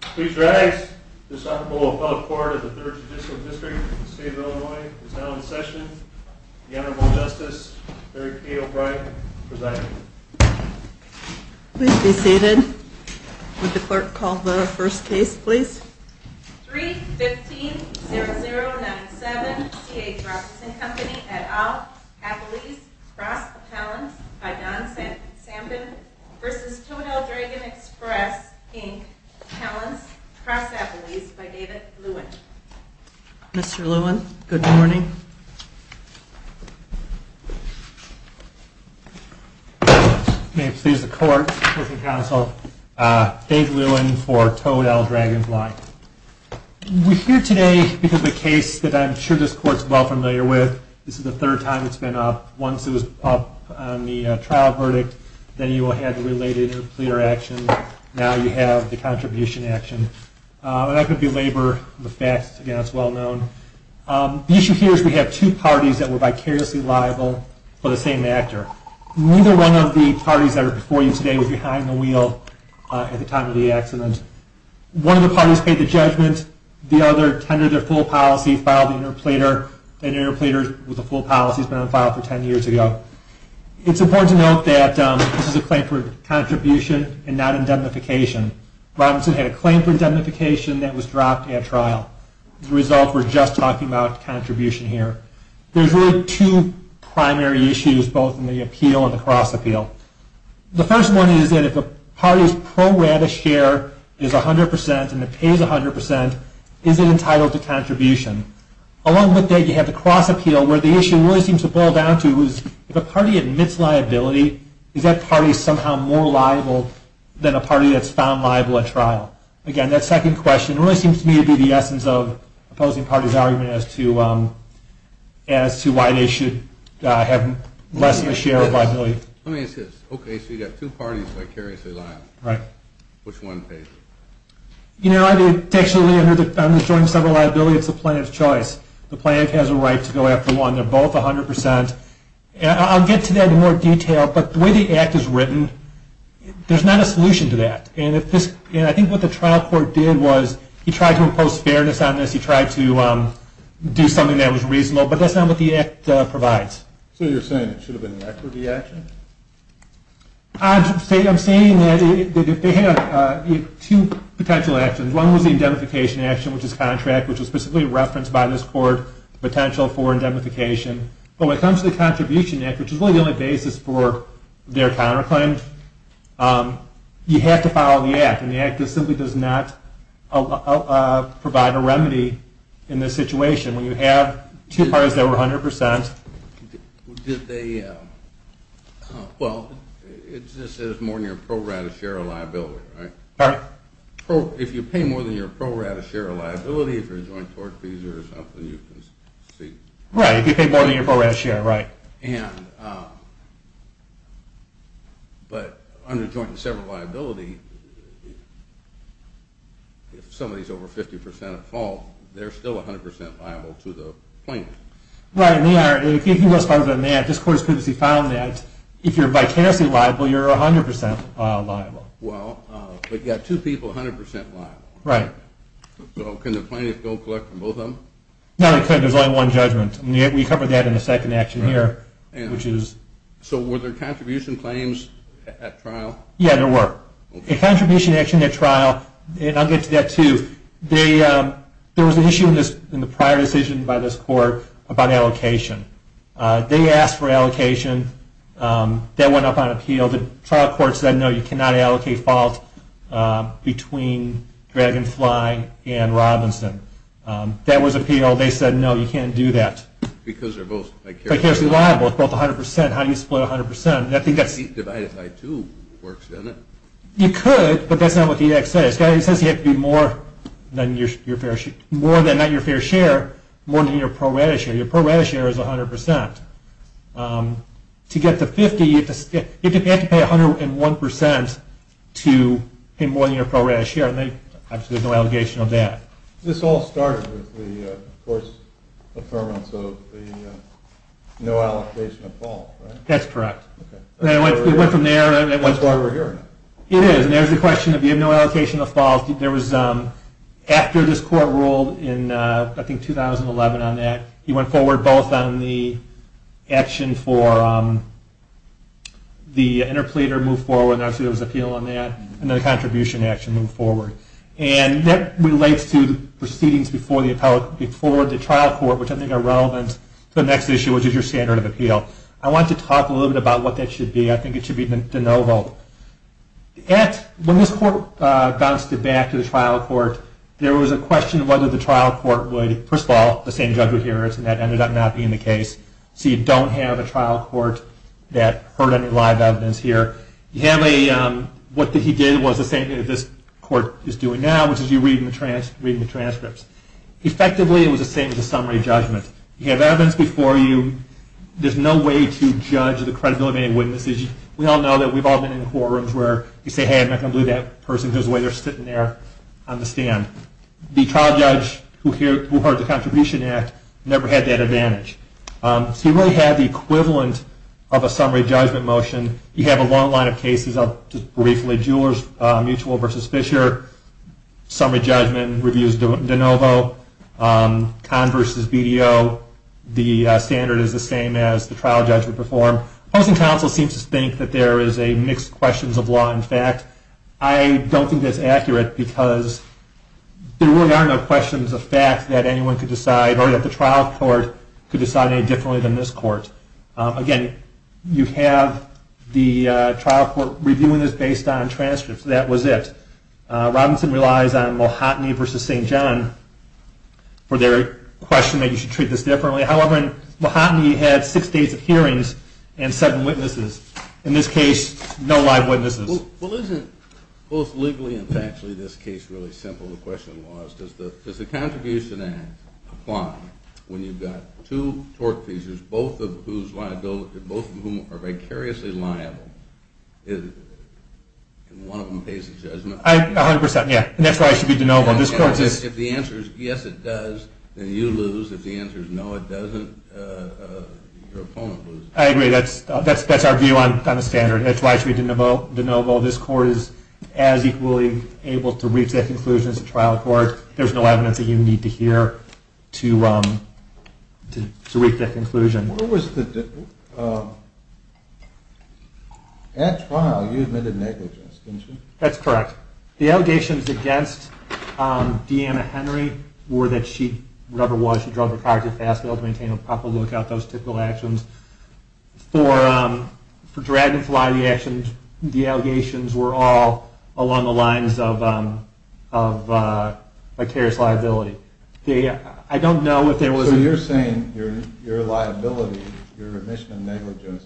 Please rise. This Honorable Appellate Court of the 3rd Judicial District of the State of Illinois is now in session. The Honorable Justice Mary Kay O'Brien presiding. Please be seated. Would the clerk call the first case, please? 3-15-0097 C.H. Robinson Co. et al. Appellees Cross Appellants by Don Sampin v. Toad L. Dragon Express, Inc. Appellants Cross Appellees by David Lewin. Mr. Lewin, good morning. May it please the Court, Court and Counsel, Dave Lewin for Toad L. Dragonfly. We're here today because of a case that I'm sure this Court is well familiar with. This is the third time it's been up. Once it was up on the trial verdict, then you had related pleader action. Now you have the contribution action. The issue here is we have two parties that were vicariously liable for the same actor. Neither one of the parties before you today was behind the wheel at the time of the accident. One of the parties paid the judgment. The other tendered their full policy, filed an interpleader. The interpleader with the full policy has been on file for 10 years ago. It's important to note that this is a claim for contribution and not indemnification. Robinson had a claim for indemnification that was dropped at trial. As a result, we're just talking about contribution here. There's really two primary issues, both in the appeal and the cross appeal. The first one is that if a party's pro rabbit share is 100% and it pays 100%, is it entitled to contribution? Along with that, you have the cross appeal, where the issue really seems to boil down to is if a party admits liability, is that party somehow more liable than a party that's found liable at trial? Again, that second question really seems to me to be the essence of opposing parties' argument as to why they should have less of a share of liability. Okay, so you've got two parties vicariously liable. Which one pays? You know, actually, I'm enjoying several liabilities. It's the plaintiff's choice. The plaintiff has a right to go after one. They're both 100%. I'll get to that in more detail, but the way the Act is written, there's not a solution to that. I think what the trial court did was he tried to impose fairness on this. He tried to do something that was reasonable, but that's not what the Act provides. So you're saying it should have been the equity action? I'm saying that they have two potential actions. One was the indemnification action, which is contract, which was specifically referenced by this court, potential for indemnification. But when it comes to the contribution act, which is really the only basis for their counterclaim, you have to follow the Act, and the Act simply does not provide a remedy in this situation. When you have two parties that were 100%… Well, it says more than your pro rata share of liability, right? Pardon? If you pay more than your pro rata share of liability for joint tort fees or something, you can see… Right, if you pay more than your pro rata share, right. But under joint and separate liability, if somebody is over 50% at fault, they're still 100% liable to the plaintiff. Right, and they are. If you go farther than that, this court has previously found that if you're vicariously liable, you're 100% liable. Well, but you have two people 100% liable. Right. So can the plaintiff go collect from both of them? No, they can't. There's only one judgment. We covered that in the second action here. So were there contribution claims at trial? Yeah, there were. A contribution action at trial, and I'll get to that too, there was an issue in the prior decision by this court about allocation. They asked for allocation. That went up on appeal. The trial court said, no, you cannot allocate fault between Dragonfly and Robinson. That was appealed. They said, no, you can't do that. Because they're both vicariously liable. Vicariously liable. It's both 100%. How do you split 100%? I think that's… Divide it by two works, doesn't it? You could, but that's not what the act says. It says you have to be more than not your fair share, more than your pro rata share. Your pro rata share is 100%. To get to 50%, you have to pay 101% to pay more than your pro rata share. There's no allegation of that. This all started with the court's affirmance of the no allocation of fault, right? That's correct. That's why we're hearing it. It is, and there's the question of the no allocation of fault. There was, after this court ruled in, I think, 2011 on that, he went forward both on the action for the interpleader move forward, obviously there was appeal on that, and the contribution action move forward. That relates to the proceedings before the trial court, which I think are relevant to the next issue, which is your standard of appeal. I want to talk a little bit about what that should be. I think it should be de novo. When this court bounced it back to the trial court, there was a question of whether the trial court would, first of all, the same judgment here, and that ended up not being the case, so you don't have a trial court that heard any live evidence here. You have a, what he did was the same as this court is doing now, which is you're reading the transcripts. Effectively, it was the same as a summary judgment. You have evidence before you. There's no way to judge the credibility of any witnesses. We all know that we've all been in courtrooms where you say, hey, I'm not going to believe that person. Here's the way they're sitting there on the stand. The trial judge who heard the contribution act never had that advantage. So you really have the equivalent of a summary judgment motion. You have a long line of cases. Just briefly, Jewellers Mutual v. Fisher, summary judgment reviews de novo. Conn v. BDO, the standard is the same as the trial judge would perform. Housing counsel seems to think that there is a mixed questions of law and fact. I don't think that's accurate because there really are no questions of fact that anyone could decide or that the trial court could decide any differently than this court. Again, you have the trial court reviewing this based on transcripts. That was it. Robinson relies on Mulhotny v. St. John for their question that you should treat this differently. However, Mulhotny had six days of hearings and seven witnesses. In this case, no live witnesses. Well, isn't both legally and factually this case really simple? The question was, does the contribution act apply when you've got two tort cases, both of whom are vicariously liable, and one of them pays the judgment? A hundred percent, yeah. And that's why it should be de novo. If the answer is yes, it does, then you lose. If the answer is no, it doesn't, your opponent loses. I agree. That's our view on the standard. That's why it should be de novo. This court is as equally able to reach that conclusion as a trial court. There's no evidence that you need to hear to reach that conclusion. Where was the difference? At trial, you admitted negligence, didn't you? That's correct. The allegations against Deanna Henry were that she, whatever it was, she drove a car too fast to be able to maintain a proper lookout, those typical actions. For Dragonfly, the allegations were all along the lines of vicarious liability. I don't know if there was... So you're saying your liability, your admission of negligence,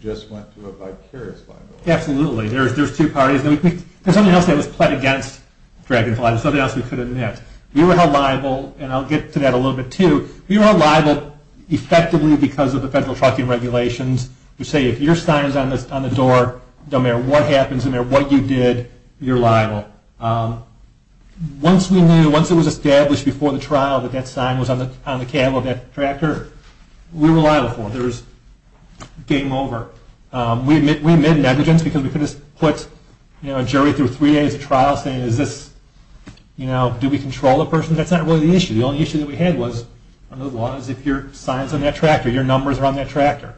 just went to a vicarious liability? Absolutely. There's two parties. There's something else that was pled against Dragonfly. There's something else we couldn't have. We were held liable, and I'll get to that a little bit, too. We were held liable effectively because of the federal trucking regulations. We say if your sign is on the door, no matter what happens, no matter what you did, you're liable. Once we knew, once it was established before the trial that that sign was on the cab of that tractor, we were liable for it. Game over. We admitted negligence because we could have put a jury through three days of trial saying, is this, you know, do we control the person? That's not really the issue. The only issue that we had was, under the law, is if your sign is on that tractor, your numbers are on that tractor.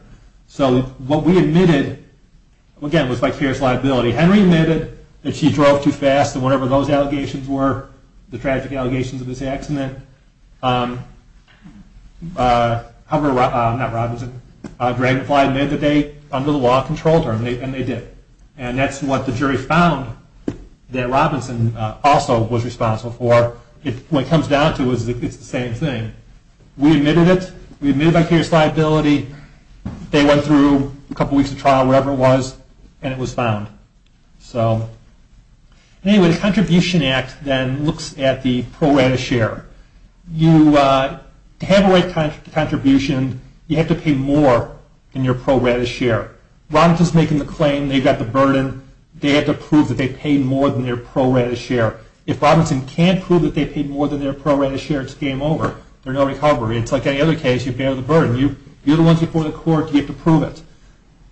So what we admitted, again, was vicarious liability. Henry admitted that she drove too fast, and whatever those allegations were, the tragic allegations of this accident, however, not Robinson, Dragonfly admitted that they, under the law, controlled her, and they did. And that's what the jury found that Robinson also was responsible for. What it comes down to is it's the same thing. We admitted it. We admitted vicarious liability. They went through a couple weeks of trial, whatever it was, and it was found. So anyway, the Contribution Act then looks at the pro rata share. You have a right to contribution. You have to pay more than your pro rata share. Robinson's making the claim they've got the burden. They have to prove that they pay more than their pro rata share. If Robinson can't prove that they pay more than their pro rata share, it's game over. There's no recovery. It's like any other case. You pay the burden. You're the ones before the court. You have to prove it.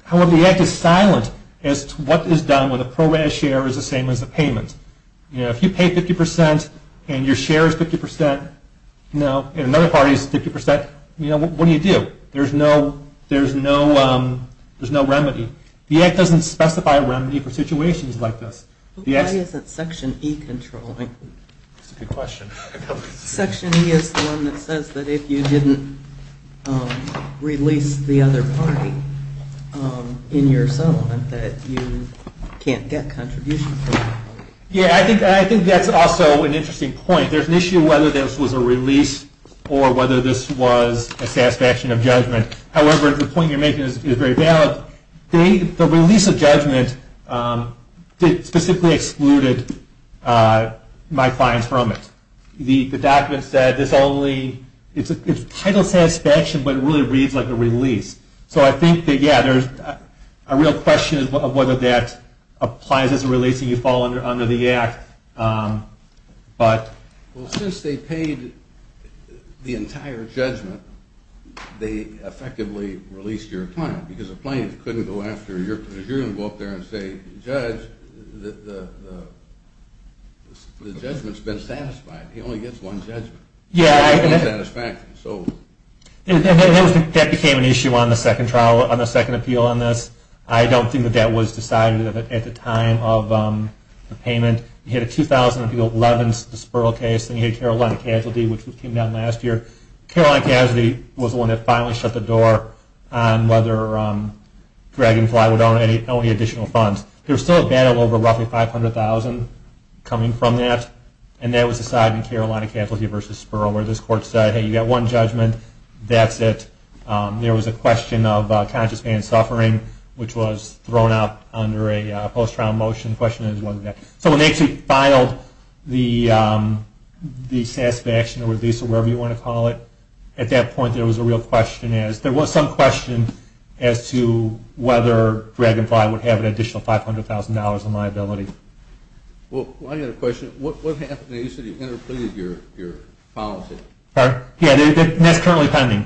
However, the act is silent as to what is done when the pro rata share is the same as the payment. If you pay 50% and your share is 50%, and another party is 50%, what do you do? There's no remedy. The act doesn't specify a remedy for situations like this. Why isn't Section E controlling? That's a good question. Section E is the one that says that if you didn't release the other party in your settlement, that you can't get contributions from that party. Yeah, I think that's also an interesting point. There's an issue whether this was a release or whether this was a satisfaction of judgment. However, the point you're making is very valid. The release of judgment specifically excluded my clients from it. The document said it's title satisfaction, but it really reads like a release. So I think, yeah, there's a real question of whether that applies as a release and you fall under the act. Well, since they paid the entire judgment, they effectively released your client because the plaintiff couldn't go after you because you're going to go up there and say, Judge, the judgment's been satisfied. He only gets one judgment. Yeah, that became an issue on the second appeal on this. I don't think that that was decided at the time of the payment. You had a 2011 Spurl case, and you had Carolina Casualty, which came down last year. Carolina Casualty was the one that finally shut the door on whether Dragonfly would own any additional funds. There was still a battle over roughly $500,000 coming from that, and that was decided in Carolina Casualty v. Spurl where this court said, Hey, you got one judgment, that's it. There was a question of conscious pain and suffering, which was thrown out under a post-trial motion. So when they actually filed the satisfaction or release or whatever you want to call it, at that point there was some question as to whether Dragonfly would have an additional $500,000 in liability. Well, I've got a question. What happened when you said you interpreted your policy? Yeah, and that's currently pending.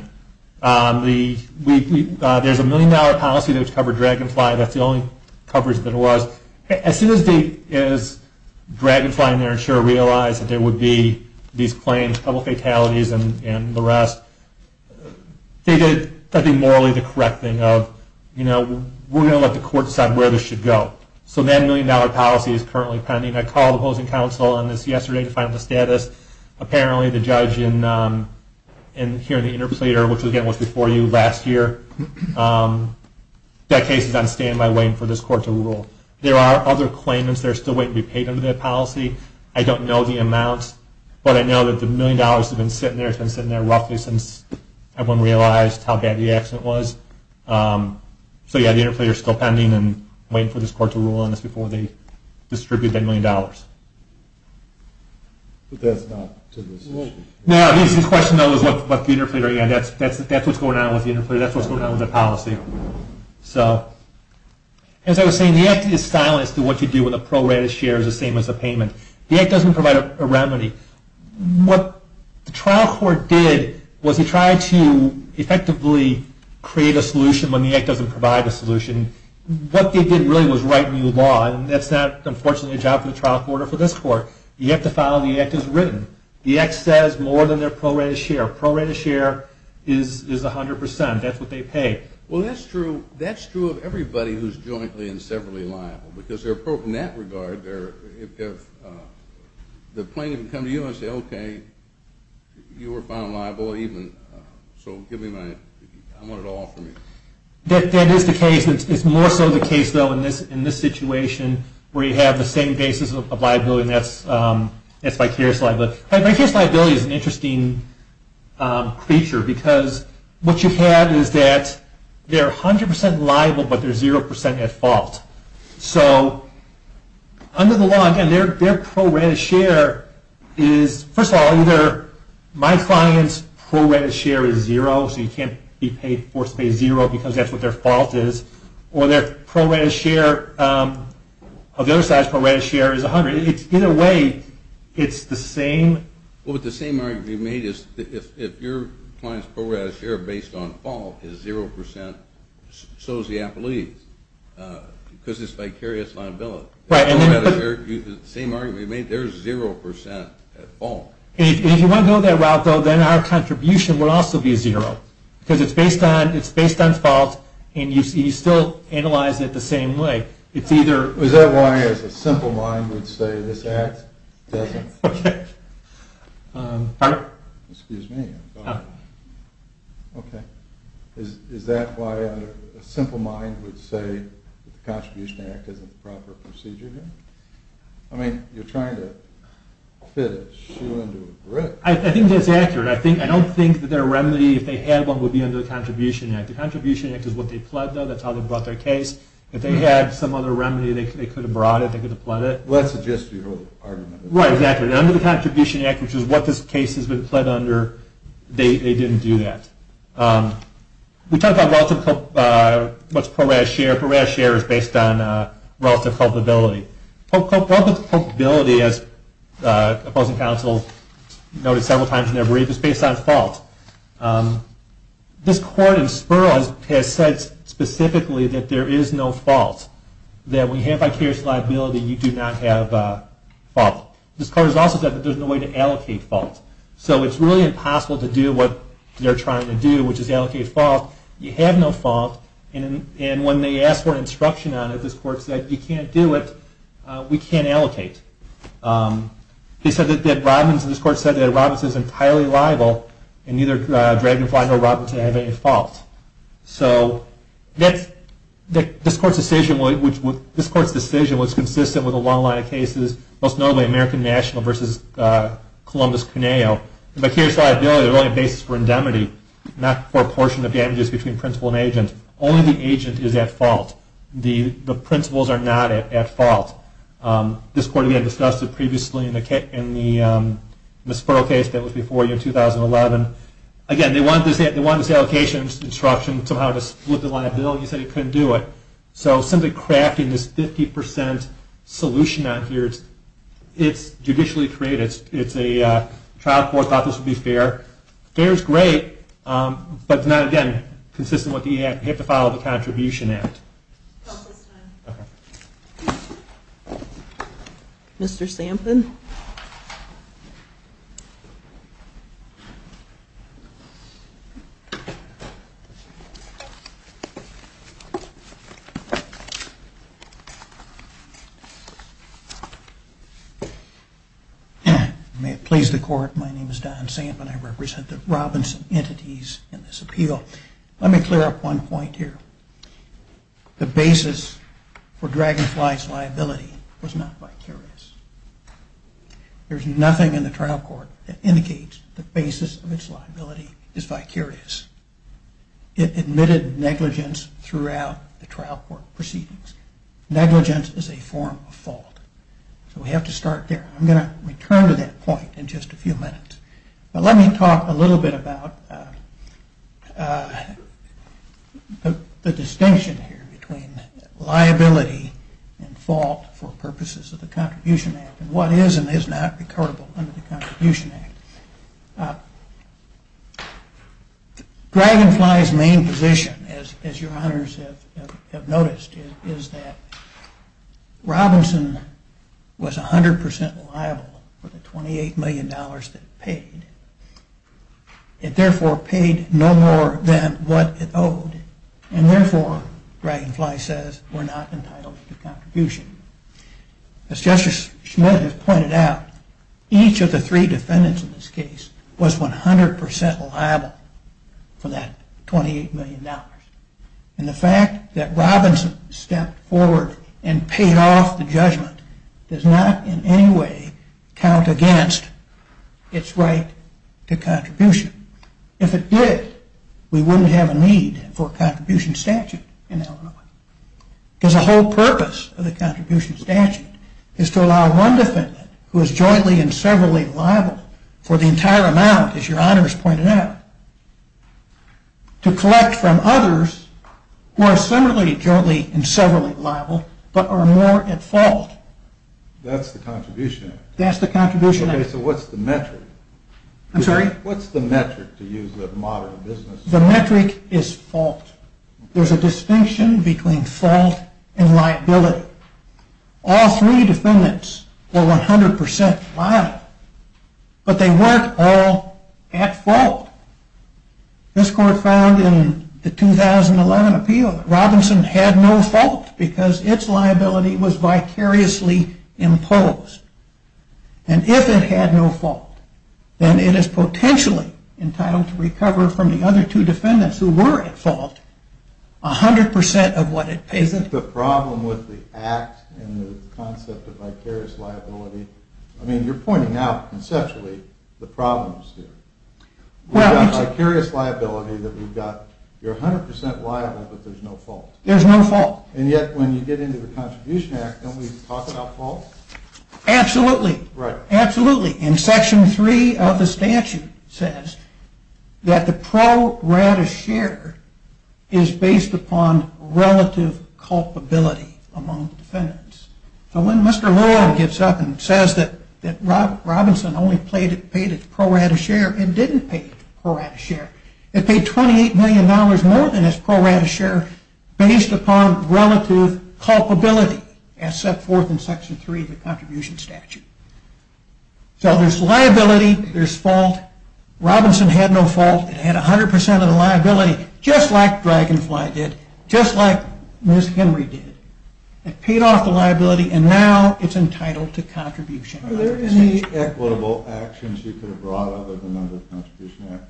There's a million-dollar policy that would cover Dragonfly. That's the only coverage that there was. As soon as Dragonfly and their insurer realized that there would be these claims, public fatalities and the rest, they did, I think, morally the correct thing of, you know, we're going to let the court decide where this should go. So that million-dollar policy is currently pending. I called the housing council on this yesterday to find out the status. Apparently the judge in hearing the interpleader, which again was before you last year, that case is on stand-by waiting for this court to rule. There are other claimants that are still waiting to be paid under that policy. I don't know the amounts, but I know that the million dollars has been sitting there roughly since everyone realized how bad the accident was. So, yeah, the interpleader is still pending and waiting for this court to rule on this to distribute that million dollars. But that's not to this issue. No, the question, though, is what the interpleader, and that's what's going on with the interpleader. That's what's going on with the policy. So as I was saying, the act is silenced through what you do when the pro rata share is the same as the payment. The act doesn't provide a remedy. What the trial court did was it tried to effectively create a solution when the act doesn't provide a solution. What they did really was write new law, and that's not, unfortunately, a job for the trial court or for this court. You have to follow the act as written. The act says more than their pro rata share. Pro rata share is 100%. That's what they pay. Well, that's true of everybody who's jointly and severally liable because in that regard, the plaintiff can come to you and say, okay, you were found liable, so give me my, I want it all for me. That is the case. It's more so the case, though, in this situation where you have the same basis of liability, and that's vicarious liability. Vicarious liability is an interesting feature because what you have is that they're 100% liable, but they're 0% at fault. So under the law, again, their pro rata share is, first of all, either my client's pro rata share is zero, so you can't be forced to pay zero because that's what their fault is, or their pro rata share of the other side's pro rata share is 100. Either way, it's the same. Well, but the same argument you made is if your client's pro rata share, based on fault, is 0%, so is the appellee because it's vicarious liability. The same argument you made, they're 0% at fault. And if you want to go that route, though, then our contribution would also be zero because it's based on fault, and you still analyze it the same way. It's either... Is that why, as a simple mind would say, this act doesn't... Okay. Pardon? Excuse me. Okay. Is that why a simple mind would say the Contribution Act isn't the proper procedure here? I mean, you're trying to fit a shoe into a brick. I think that's accurate. I don't think that their remedy, if they had one, would be under the Contribution Act. The Contribution Act is what they pled, though. That's how they brought their case. If they had some other remedy, they could have brought it. They could have pled it. Well, that's a gestural argument. Right, exactly. And under the Contribution Act, which is what this case has been pled under, they didn't do that. We talked about what's pro rata share. Pro rata share is based on relative culpability. Culpability, as opposing counsel noted several times in their brief, is based on fault. This court in Spurl has said specifically that there is no fault, that when you have vicarious liability, you do not have fault. This court has also said that there's no way to allocate fault. So it's really impossible to do what they're trying to do, which is allocate fault. You have no fault. And when they asked for an instruction on it, this court said, if you can't do it, we can't allocate. This court said that Robinson is entirely liable, and neither Dragonfly nor Robinson have any fault. So this court's decision was consistent with a long line of cases, most notably American National versus Columbus-Cuneo. Vicarious liability is really a basis for indemnity, not for a portion of damages between principal and agent. Only the agent is at fault. The principals are not at fault. This court, again, discussed it previously in the Spurl case that was before you in 2011. Again, they wanted this allocation instruction somehow to split the line of bill. You said you couldn't do it. So simply crafting this 50 percent solution out here, it's judicially created. It's a trial court thought this would be fair. Fair is great, but it's not, again, consistent with the EAC. You have to follow the Contribution Act. Mr. Sampin. Mr. Sampin. May it please the court, my name is Don Sampin. I represent the Robinson entities in this appeal. Let me clear up one point here. The basis for Dragonfly's liability was not vicarious. There's nothing in the trial court that indicates the basis of its liability is vicarious. It admitted negligence throughout the trial court proceedings. Negligence is a form of fault. So we have to start there. I'm going to return to that point in just a few minutes. Let me talk a little bit about the distinction here between liability and fault for purposes of the Contribution Act and what is and is not recordable under the Contribution Act. Dragonfly's main position, as your honors have noticed, is that Robinson was 100% liable for the $28 million that it paid. It therefore paid no more than what it owed, and therefore, Dragonfly says, we're not entitled to contribution. As Justice Schmidt has pointed out, each of the three defendants in this case was 100% liable for that $28 million. And the fact that Robinson stepped forward and paid off the judgment does not in any way count against its right to contribution. If it did, we wouldn't have a need for a contribution statute in Illinois. Because the whole purpose of the contribution statute is to allow one defendant, who is jointly and severally liable for the entire amount, as your honors pointed out, to collect from others who are similarly jointly and severally liable, but are more at fault. That's the Contribution Act? That's the Contribution Act. Okay, so what's the metric? I'm sorry? What's the metric, to use the modern business? The metric is fault. There's a distinction between fault and liability. All three defendants were 100% liable, but they weren't all at fault. This court found in the 2011 appeal that Robinson had no fault because its liability was vicariously imposed. And if it had no fault, then it is potentially entitled to recover from the other two defendants, who were at fault, 100% of what it pays them. Isn't the problem with the act and the concept of vicarious liability? I mean, you're pointing out, conceptually, the problems here. We've got vicarious liability that we've got. You're 100% liable, but there's no fault. There's no fault. And yet, when you get into the Contribution Act, don't we talk about fault? Absolutely. Right. Absolutely. And Section 3 of the statute says that the pro rata share is based upon relative culpability among defendants. So when Mr. Roy gives up and says that Robinson only paid its pro rata share, it didn't pay pro rata share. It paid $28 million more than its pro rata share based upon relative culpability, as set forth in Section 3 of the Contribution Statute. So there's liability, there's fault. Robinson had no fault. It had 100% of the liability, just like Dragonfly did, just like Ms. Henry did. It paid off the liability, and now it's entitled to contribution. Are there any equitable actions you could have brought other than under the Contribution Act?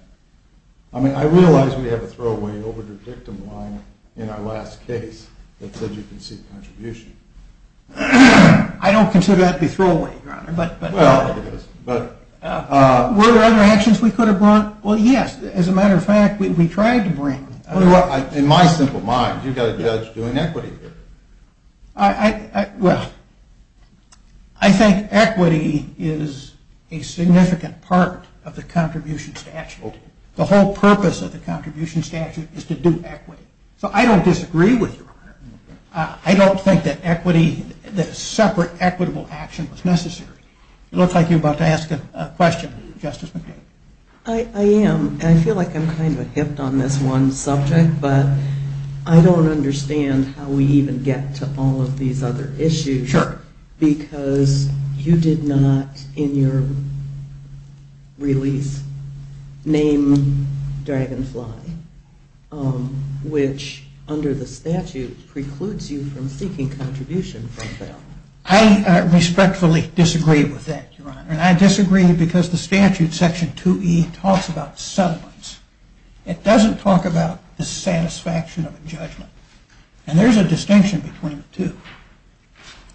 I mean, I realize we have a throwaway overdue victim line in our last case that said you can seek contribution. I don't consider that to be throwaway, Your Honor. Well, I guess. Were there other actions we could have brought? Well, yes. As a matter of fact, we tried to bring. In my simple mind, you've got a judge doing equity here. Well, I think equity is a significant part of the Contribution Statute. The whole purpose of the Contribution Statute is to do equity. So I don't disagree with you, Your Honor. I don't think that separate equitable action was necessary. It looks like you're about to ask a question, Justice McCain. I am. I feel like I'm kind of hipped on this one subject, but I don't understand how we even get to all of these other issues. Sure. Because you did not in your release name Dragonfly, which under the statute precludes you from seeking contribution from them. I respectfully disagree with that, Your Honor. And I disagree because the statute, Section 2E, talks about settlements. It doesn't talk about the satisfaction of a judgment. And there's a distinction between the two.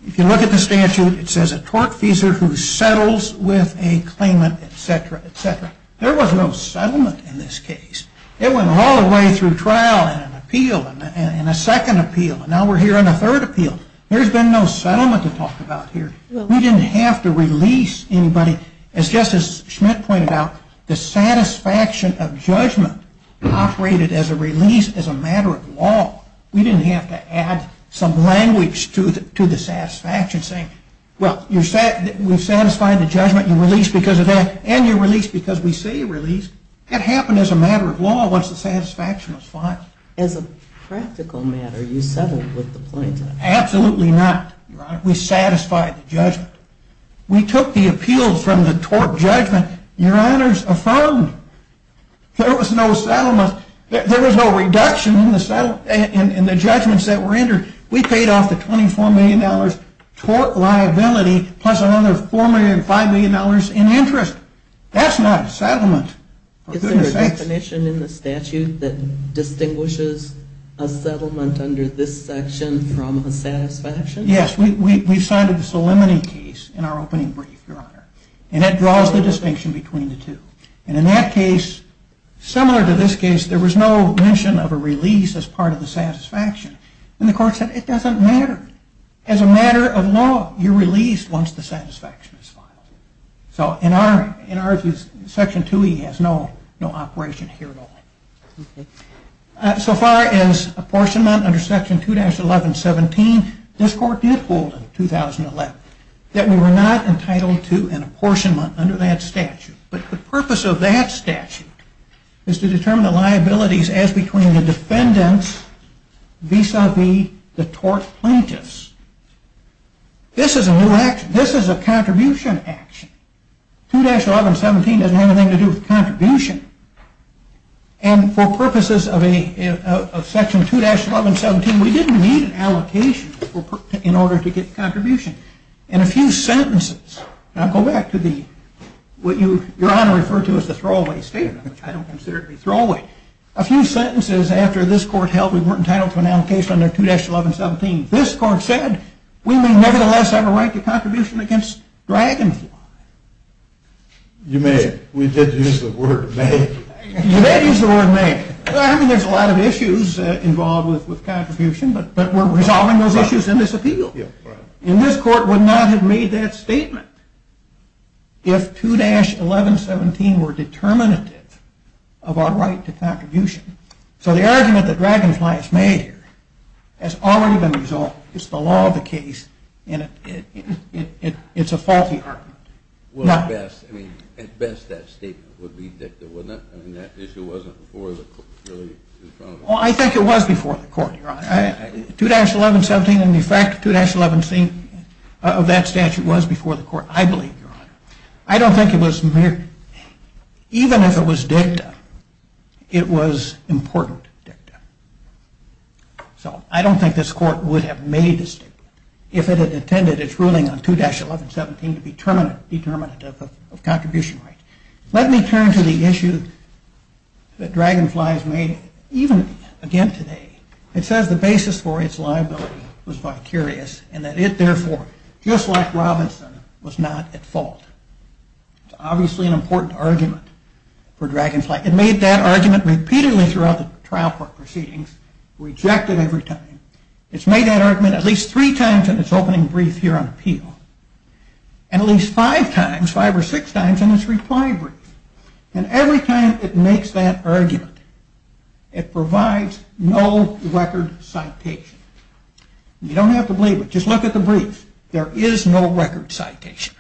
If you look at the statute, it says a tortfeasor who settles with a claimant, et cetera, et cetera. There was no settlement in this case. It went all the way through trial and an appeal and a second appeal. And now we're hearing a third appeal. There's been no settlement to talk about here. We didn't have to release anybody. As Justice Schmitt pointed out, the satisfaction of judgment operated as a release as a matter of law. We didn't have to add some language to the satisfaction saying, well, we've satisfied the judgment. You're released because of that. And you're released because we say you're released. That happened as a matter of law once the satisfaction was filed. As a practical matter, you settled with the plaintiff. Absolutely not, Your Honor. We satisfied the judgment. We took the appeals from the tort judgment. Your Honor's affirmed. There was no settlement. There was no reduction in the judgments that were entered. We paid off the $24 million tort liability plus another $405 million in interest. That's not a settlement. Is there a definition in the statute that distinguishes a settlement under this section from a satisfaction? Yes. We've cited the solemnity case in our opening brief, Your Honor. And that draws the distinction between the two. And in that case, similar to this case, there was no mention of a release as part of the satisfaction. And the court said it doesn't matter. As a matter of law, you're released once the satisfaction is filed. So in our view, Section 2E has no operation here at all. So far as apportionment under Section 2-1117, this court did hold in 2011 that we were not entitled to an apportionment under that statute. But the purpose of that statute is to determine the liabilities as between the defendants vis-à-vis the tort plaintiffs. This is a little action. This is a contribution action. 2-1117 doesn't have anything to do with contribution. And for purposes of Section 2-1117, we didn't need an allocation in order to get contribution. In a few sentences, and I'll go back to what Your Honor referred to as the throwaway statement, which I don't consider to be throwaway. A few sentences after this court held we weren't entitled to an allocation under 2-1117, this court said we may nevertheless have a right to contribution against Dragonfly. You may. We did use the word may. You may use the word may. I mean, there's a lot of issues involved with contribution, but we're resolving those issues in this appeal. And this court would not have made that statement if 2-1117 were determinative of our right to contribution. So the argument that Dragonfly has made here has already been resolved. It's the law of the case, and it's a faulty argument. Well, at best, I mean, at best that statement would be dicta, wouldn't it? I mean, that issue wasn't before the court really in front of us. Well, I think it was before the court, Your Honor. 2-1117 and the effect of 2-1116 of that statute was before the court, I believe, Your Honor. I don't think it was mere, even if it was dicta, it was important dicta. So I don't think this court would have made a statement if it had intended its ruling on 2-1117 to be determinative of contribution rights. Let me turn to the issue that Dragonfly has made even again today. It says the basis for its liability was vicarious, and that it therefore, just like Robinson, was not at fault. It's obviously an important argument for Dragonfly. It made that argument repeatedly throughout the trial proceedings, rejected every time. It's made that argument at least three times in its opening brief here on appeal, and at least five times, five or six times in its reply brief. And every time it makes that argument, it provides no record citation. You don't have to believe it. Just look at the brief. There is no record citation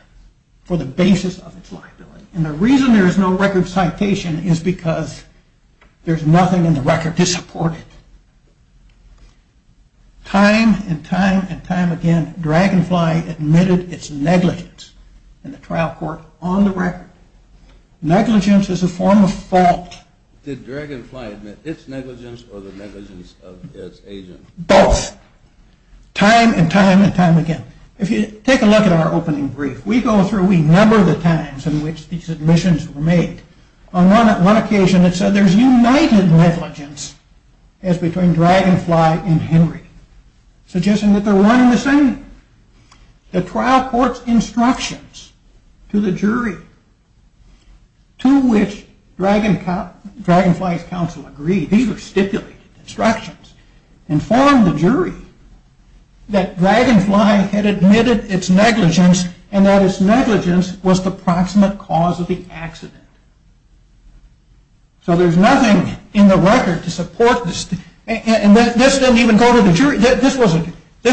for the basis of its liability. And the reason there is no record citation is because there's nothing in the record to support it. Time and time and time again, Dragonfly admitted its negligence in the trial court on the record. Negligence is a form of fault. Did Dragonfly admit its negligence or the negligence of its agent? Both. Time and time and time again. If you take a look at our opening brief, we go through, we number the times in which these admissions were made. On one occasion it said there's united negligence as between Dragonfly and Henry, suggesting that they're one and the same. The trial court's instructions to the jury, to which Dragonfly's counsel agreed, these were stipulated instructions, informed the jury that Dragonfly had admitted its negligence and that its negligence was the proximate cause of the accident. So there's nothing in the record to support this. And this didn't even go to the jury. This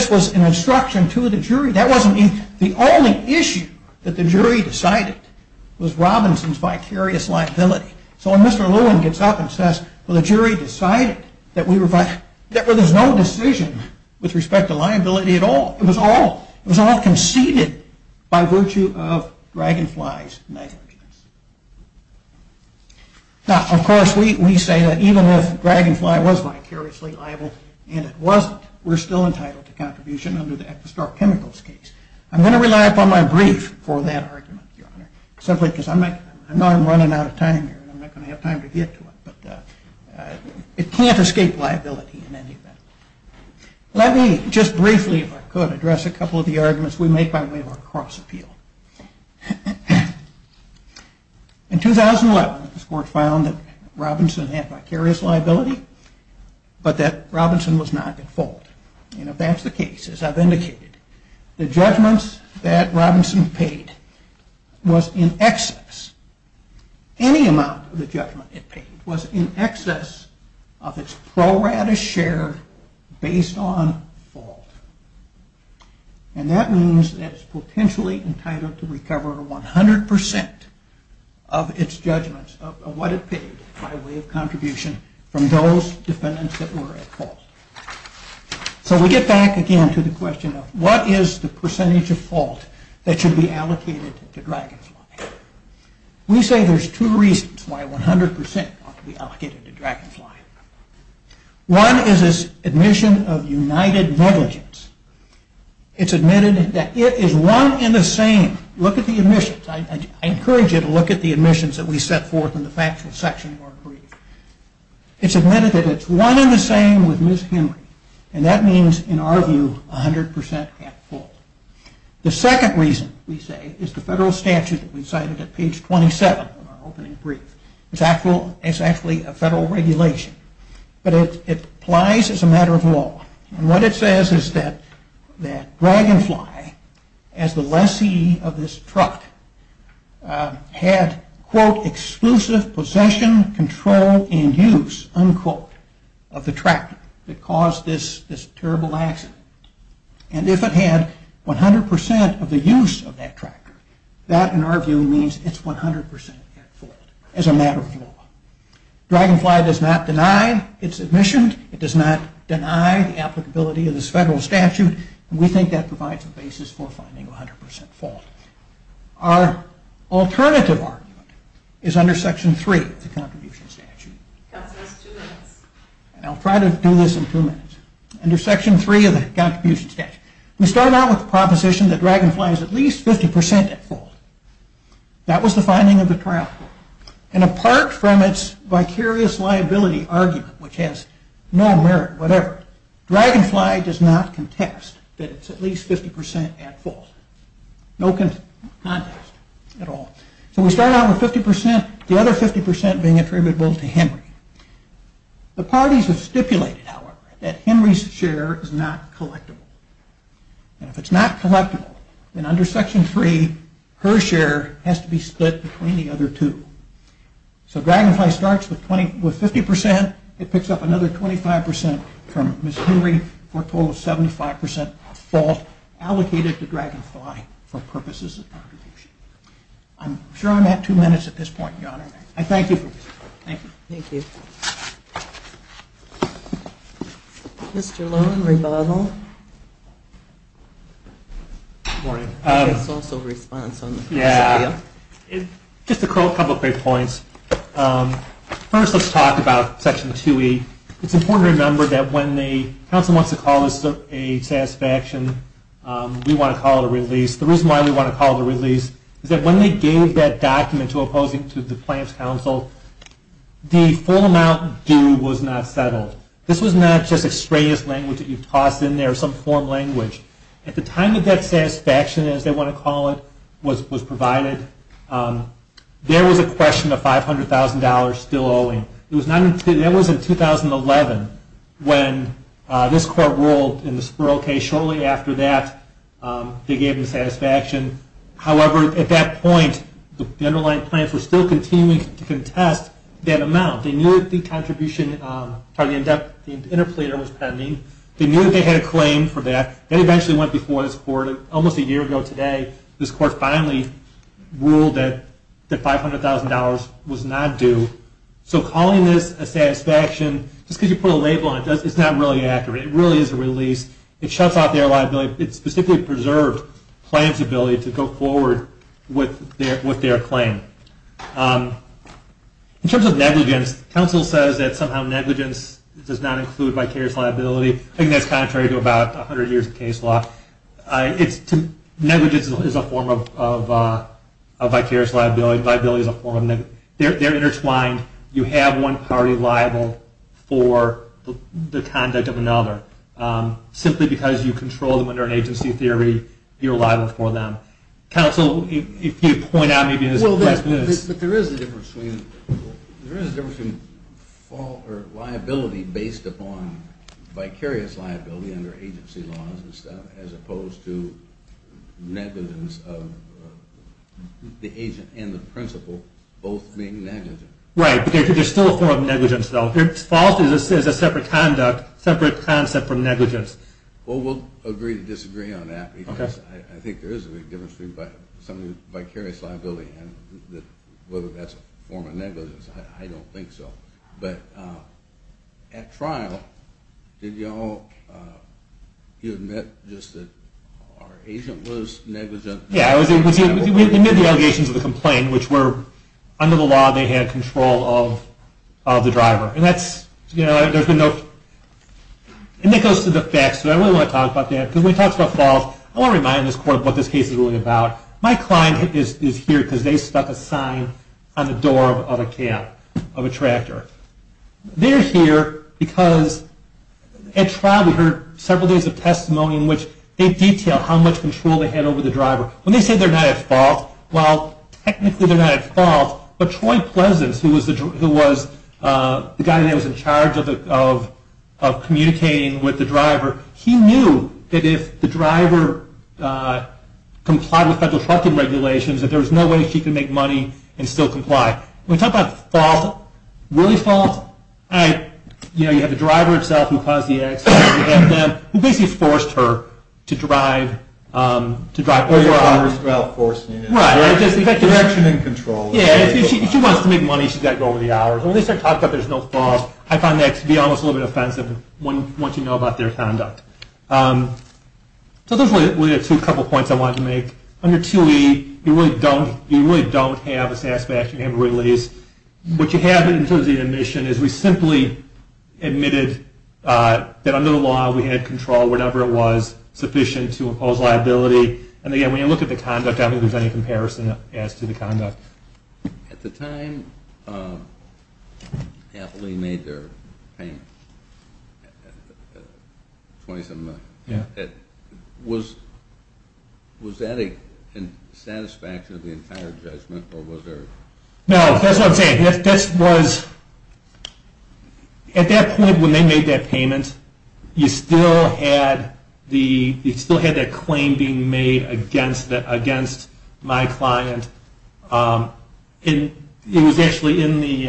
was an instruction to the jury. That wasn't the only issue that the jury decided was Robinson's vicarious liability. So when Mr. Lewin gets up and says, well, the jury decided that there was no decision with respect to liability at all. It was all conceded by virtue of Dragonfly's negligence. Now, of course, we say that even if Dragonfly was vicariously liable and it wasn't, we're still entitled to contribution under the Equistar Chemicals case. I'm going to rely upon my brief for that argument, Your Honor. Simply because I know I'm running out of time here and I'm not going to have time to get to it. But it can't escape liability in any event. Let me just briefly, if I could, address a couple of the arguments we make by way of our cross appeal. In 2011, this Court found that Robinson had vicarious liability, but that Robinson was not at fault. And if that's the case, as I've indicated, the judgments that Robinson paid was in excess. Any amount of the judgment it paid was in excess of its pro rata share based on fault. And that means that it's potentially entitled to recover 100% of its judgments of what it paid by way of contribution from those defendants that were at fault. So we get back again to the question of what is the percentage of fault that should be allocated to Dragonfly? We say there's two reasons why 100% ought to be allocated to Dragonfly. One is its admission of united negligence. It's admitted that it is one in the same. Look at the admissions. I encourage you to look at the admissions that we set forth in the factual section of our brief. It's admitted that it's one in the same with Ms. Henry. And that means, in our view, 100% at fault. The second reason, we say, is the federal statute that we cited at page 27 of our opening brief. It's actually a federal regulation. But it applies as a matter of law. And what it says is that Dragonfly, as the lessee of this truck, had, quote, exclusive possession, control, and use, unquote, of the tractor that caused this terrible accident. And if it had 100% of the use of that tractor, that, in our view, means it's 100% at fault. As a matter of law. Dragonfly does not deny its admission. It does not deny the applicability of this federal statute. And we think that provides a basis for finding 100% fault. Our alternative argument is under Section 3 of the Contribution Statute. And I'll try to do this in two minutes. Under Section 3 of the Contribution Statute. We started out with the proposition that Dragonfly is at least 50% at fault. That was the finding of the trial. And apart from its vicarious liability argument, which has no merit, whatever, Dragonfly does not contest that it's at least 50% at fault. No contest at all. So we start out with 50%, the other 50% being attributable to Henry. The parties have stipulated, however, that Henry's share is not collectible. And if it's not collectible, then under Section 3, her share has to be split between the other two. So Dragonfly starts with 50%. It picks up another 25% from Ms. Henry for a total of 75% at fault allocated to Dragonfly for purposes of contribution. I'm sure I'm at two minutes at this point, Your Honor. I thank you. Thank you. Thank you. Mr. Lowen, rebuttal. Good morning. It's also a response. Just a couple of quick points. First, let's talk about Section 2E. It's important to remember that when the council wants to call this a satisfaction, we want to call it a release. The reason why we want to call it a release is that when they gave that document to opposing to the plaintiff's counsel, the full amount due was not settled. This was not just extraneous language that you tossed in there, some form of language. At the time that that satisfaction, as they want to call it, was provided, there was a question of $500,000 still owing. That was in 2011 when this court ruled in the Spiro case. Shortly after that, they gave the satisfaction. However, at that point, the underlying plans were still continuing to contest that amount. They knew that the contribution, the interpleader was pending. They knew that they had a claim for that. That eventually went before this court. Almost a year ago today, this court finally ruled that $500,000 was not due. So calling this a satisfaction, just because you put a label on it, it's not really accurate. It really is a release. It shuts off their liability. It specifically preserved the plaintiff's ability to go forward with their claim. In terms of negligence, counsel says that somehow negligence does not include vicarious liability. I think that's contrary to about 100 years of case law. Negligence is a form of vicarious liability. Viability is a form of negligence. They're intertwined. You have one party liable for the conduct of another, simply because you control them under an agency theory. You're liable for them. Counsel, if you'd point out maybe this is the best move. But there is a difference between fault or liability based upon vicarious liability under agency laws and stuff, as opposed to negligence of the agent and the principal both being negligent. Right, but there's still a form of negligence, though. Fault is a separate concept from negligence. Well, we'll agree to disagree on that. I think there is a big difference between something like vicarious liability and whether that's a form of negligence. I don't think so. But at trial, did you all admit just that our agent was negligent? Yeah, we admitted the allegations of the complaint, which were under the law they had control of the driver. And that goes to the facts. So I really want to talk about that. Because when we talk about fault, I want to remind this court what this case is really about. My client is here because they stuck a sign on the door of a cab, of a tractor. They're here because at trial we heard several days of testimony in which they detailed how much control they had over the driver. When they say they're not at fault, well, technically they're not at fault. But Troy Pleasance, who was the guy that was in charge of communicating with the driver, he knew that if the driver complied with federal trucking regulations, that there was no way she could make money and still comply. When we talk about fault, really fault, you have the driver himself who caused the accident. You have them who basically forced her to drive. Or you have her self-forcing it. Right. Direction and control. Yeah, if she wants to make money, she's got to go over the hours. And when they start talking about there's no fault, I find that to be almost a little bit offensive once you know about their conduct. So those were the two couple points I wanted to make. Under 2E, you really don't have a satisfactory action, you have a release. What you have in terms of the admission is we simply admitted that under the law we had control, whatever it was, sufficient to impose liability. And again, when you look at the conduct, I don't think there's any comparison as to the conduct. At the time Appley made their payment, was that a satisfaction of the entire judgment? At that point when they made that payment, you still had that claim being made against my client. It was actually in the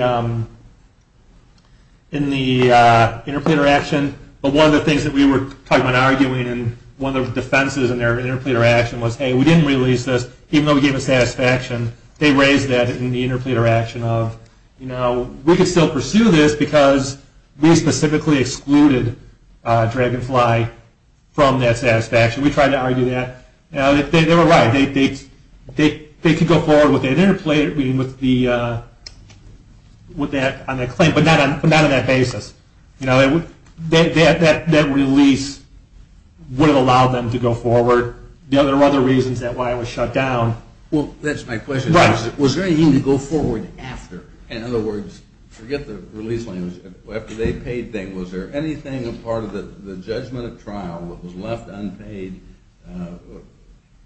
interpleader action, but one of the things that we were arguing and one of the defenses in their interpleader action was, hey, we didn't release this, even though we gave a satisfaction. They raised that in the interpleader action of, you know, we can still pursue this because we specifically excluded Dragonfly from that satisfaction. We tried to argue that. They were right. They could go forward with that claim, but not on that basis. That release would have allowed them to go forward. There were other reasons why it was shut down. Well, that's my question. Was there anything to go forward after? In other words, forget the release. After they paid, was there anything as part of the judgment of trial that was left unpaid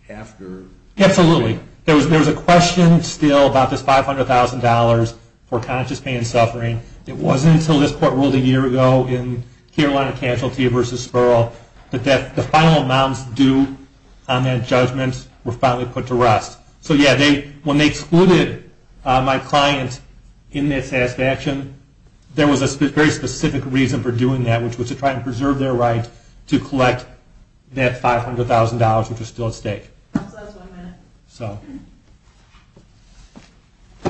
after? Absolutely. There was a question still about this $500,000 for conscious pain and suffering. It wasn't until this court ruled a year ago in Carolina Cancel, T versus Spurl, that the final amounts due on that judgment were finally put to rest. So, yeah, when they excluded my client in that satisfaction, there was a very specific reason for doing that, which was to try and preserve their right to collect that $500,000, which was still at stake. So that's one minute.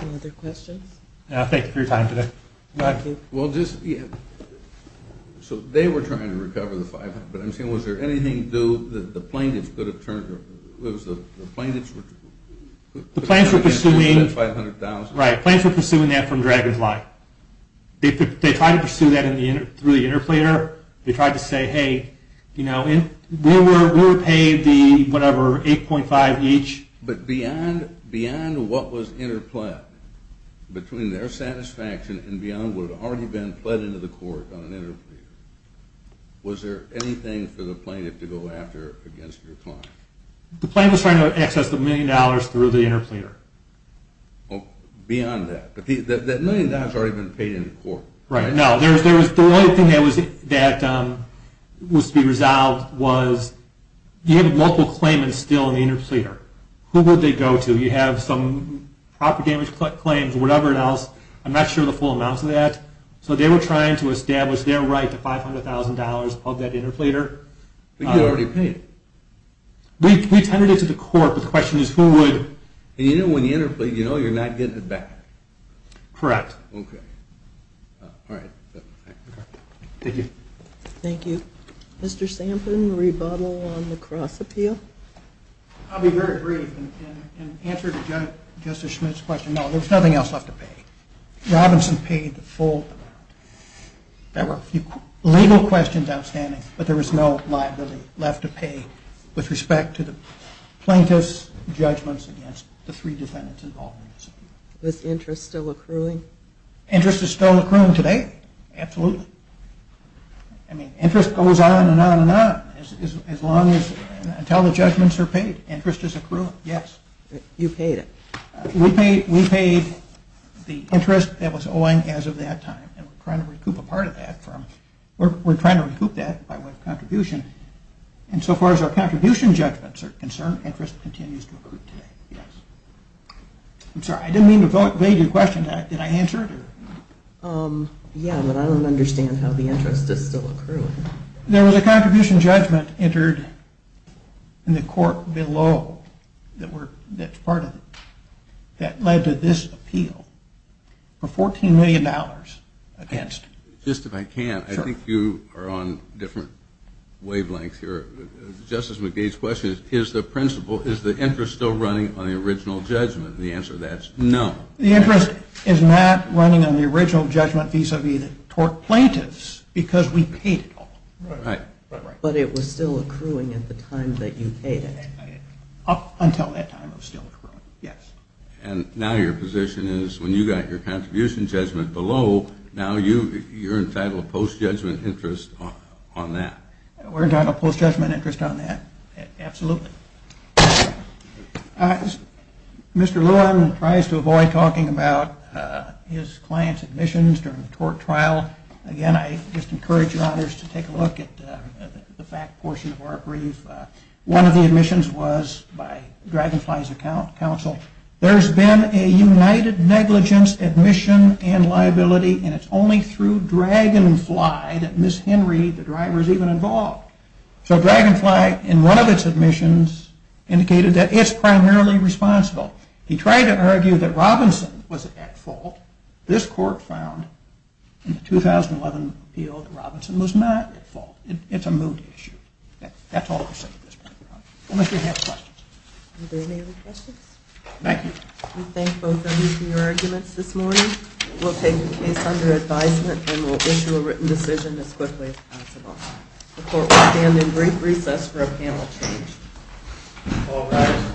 Any other questions? Thank you for your time today. Thank you. So they were trying to recover the $500,000, but I'm saying was there anything that the plaintiffs could have turned to? The plaintiffs were pursuing that from Dragon's Life. They tried to pursue that through the interplayer. They tried to say, hey, we'll pay the, whatever, $8.5 each. But beyond what was interplayed between their satisfaction and beyond what had already been pled into the court on an interplayer, was there anything for the plaintiff to go after against your client? The plaintiff was trying to access the million dollars through the interplayer. Beyond that. But that million dollars had already been paid into court, right? No. The only thing that was to be resolved was, you have multiple claimants still in the interplayer. Who would they go to? You have some proper damage claims or whatever else. I'm not sure of the full amounts of that. So they were trying to establish their right to $500,000 of that interplayer. But you already paid. We tended it to the court, but the question is who would. And you know when you interplay, you know you're not getting it back. Correct. Okay. All right. Thank you. Thank you. Mr. Sampson, rebuttal on the cross appeal? I'll be very brief. In answer to Justice Schmitt's question, no, there's nothing else left to pay. Robinson paid the full amount. There were a few legal questions outstanding, but there was no liability left to pay with respect to the plaintiff's judgments against the three defendants involved in this appeal. Was interest still accruing? Interest is still accruing today. Absolutely. I mean, interest goes on and on and on until the judgments are paid. Interest is accruing. Yes. You paid it. We paid the interest that was owing as of that time, and we're trying to recoup a part of that. We're trying to recoup that by way of contribution. And so far as our contribution judgments are concerned, interest continues to accrue today. Yes. I'm sorry, I didn't mean to evade your question. Did I answer it? Yeah, but I don't understand how the interest is still accruing. There was a contribution judgment entered in the court below that's part of it that led to this appeal for $14 million against. Just if I can, I think you are on different wavelengths here. Justice McDade's question is, is the interest still running on the original judgment? The answer to that is no. The interest is not running on the original judgment vis-a-vis the tort plaintiffs because we paid it all. Right. But it was still accruing at the time that you paid it. Up until that time it was still accruing, yes. And now your position is when you got your contribution judgment below, now you're entitled to post-judgment interest on that. We're entitled to post-judgment interest on that, absolutely. Mr. Lewin tries to avoid talking about his client's admissions during the tort trial. Again, I just encourage your honors to take a look at the fact portion of our brief. One of the admissions was by Dragonfly's counsel. There's been a united negligence admission and liability, and it's only through Dragonfly that Ms. Henry, the driver, is even involved. So Dragonfly, in one of its admissions, indicated that it's primarily responsible. He tried to argue that Robinson was at fault. This court found in the 2011 appeal that Robinson was not at fault. It's a moot issue. That's all I'll say at this point. Unless you have questions. Are there any other questions? Thank you. We thank both of you for your arguments this morning. We'll take the case under advisement and we'll issue a written decision as quickly as possible. The court will stand in brief recess for a panel change. All rise.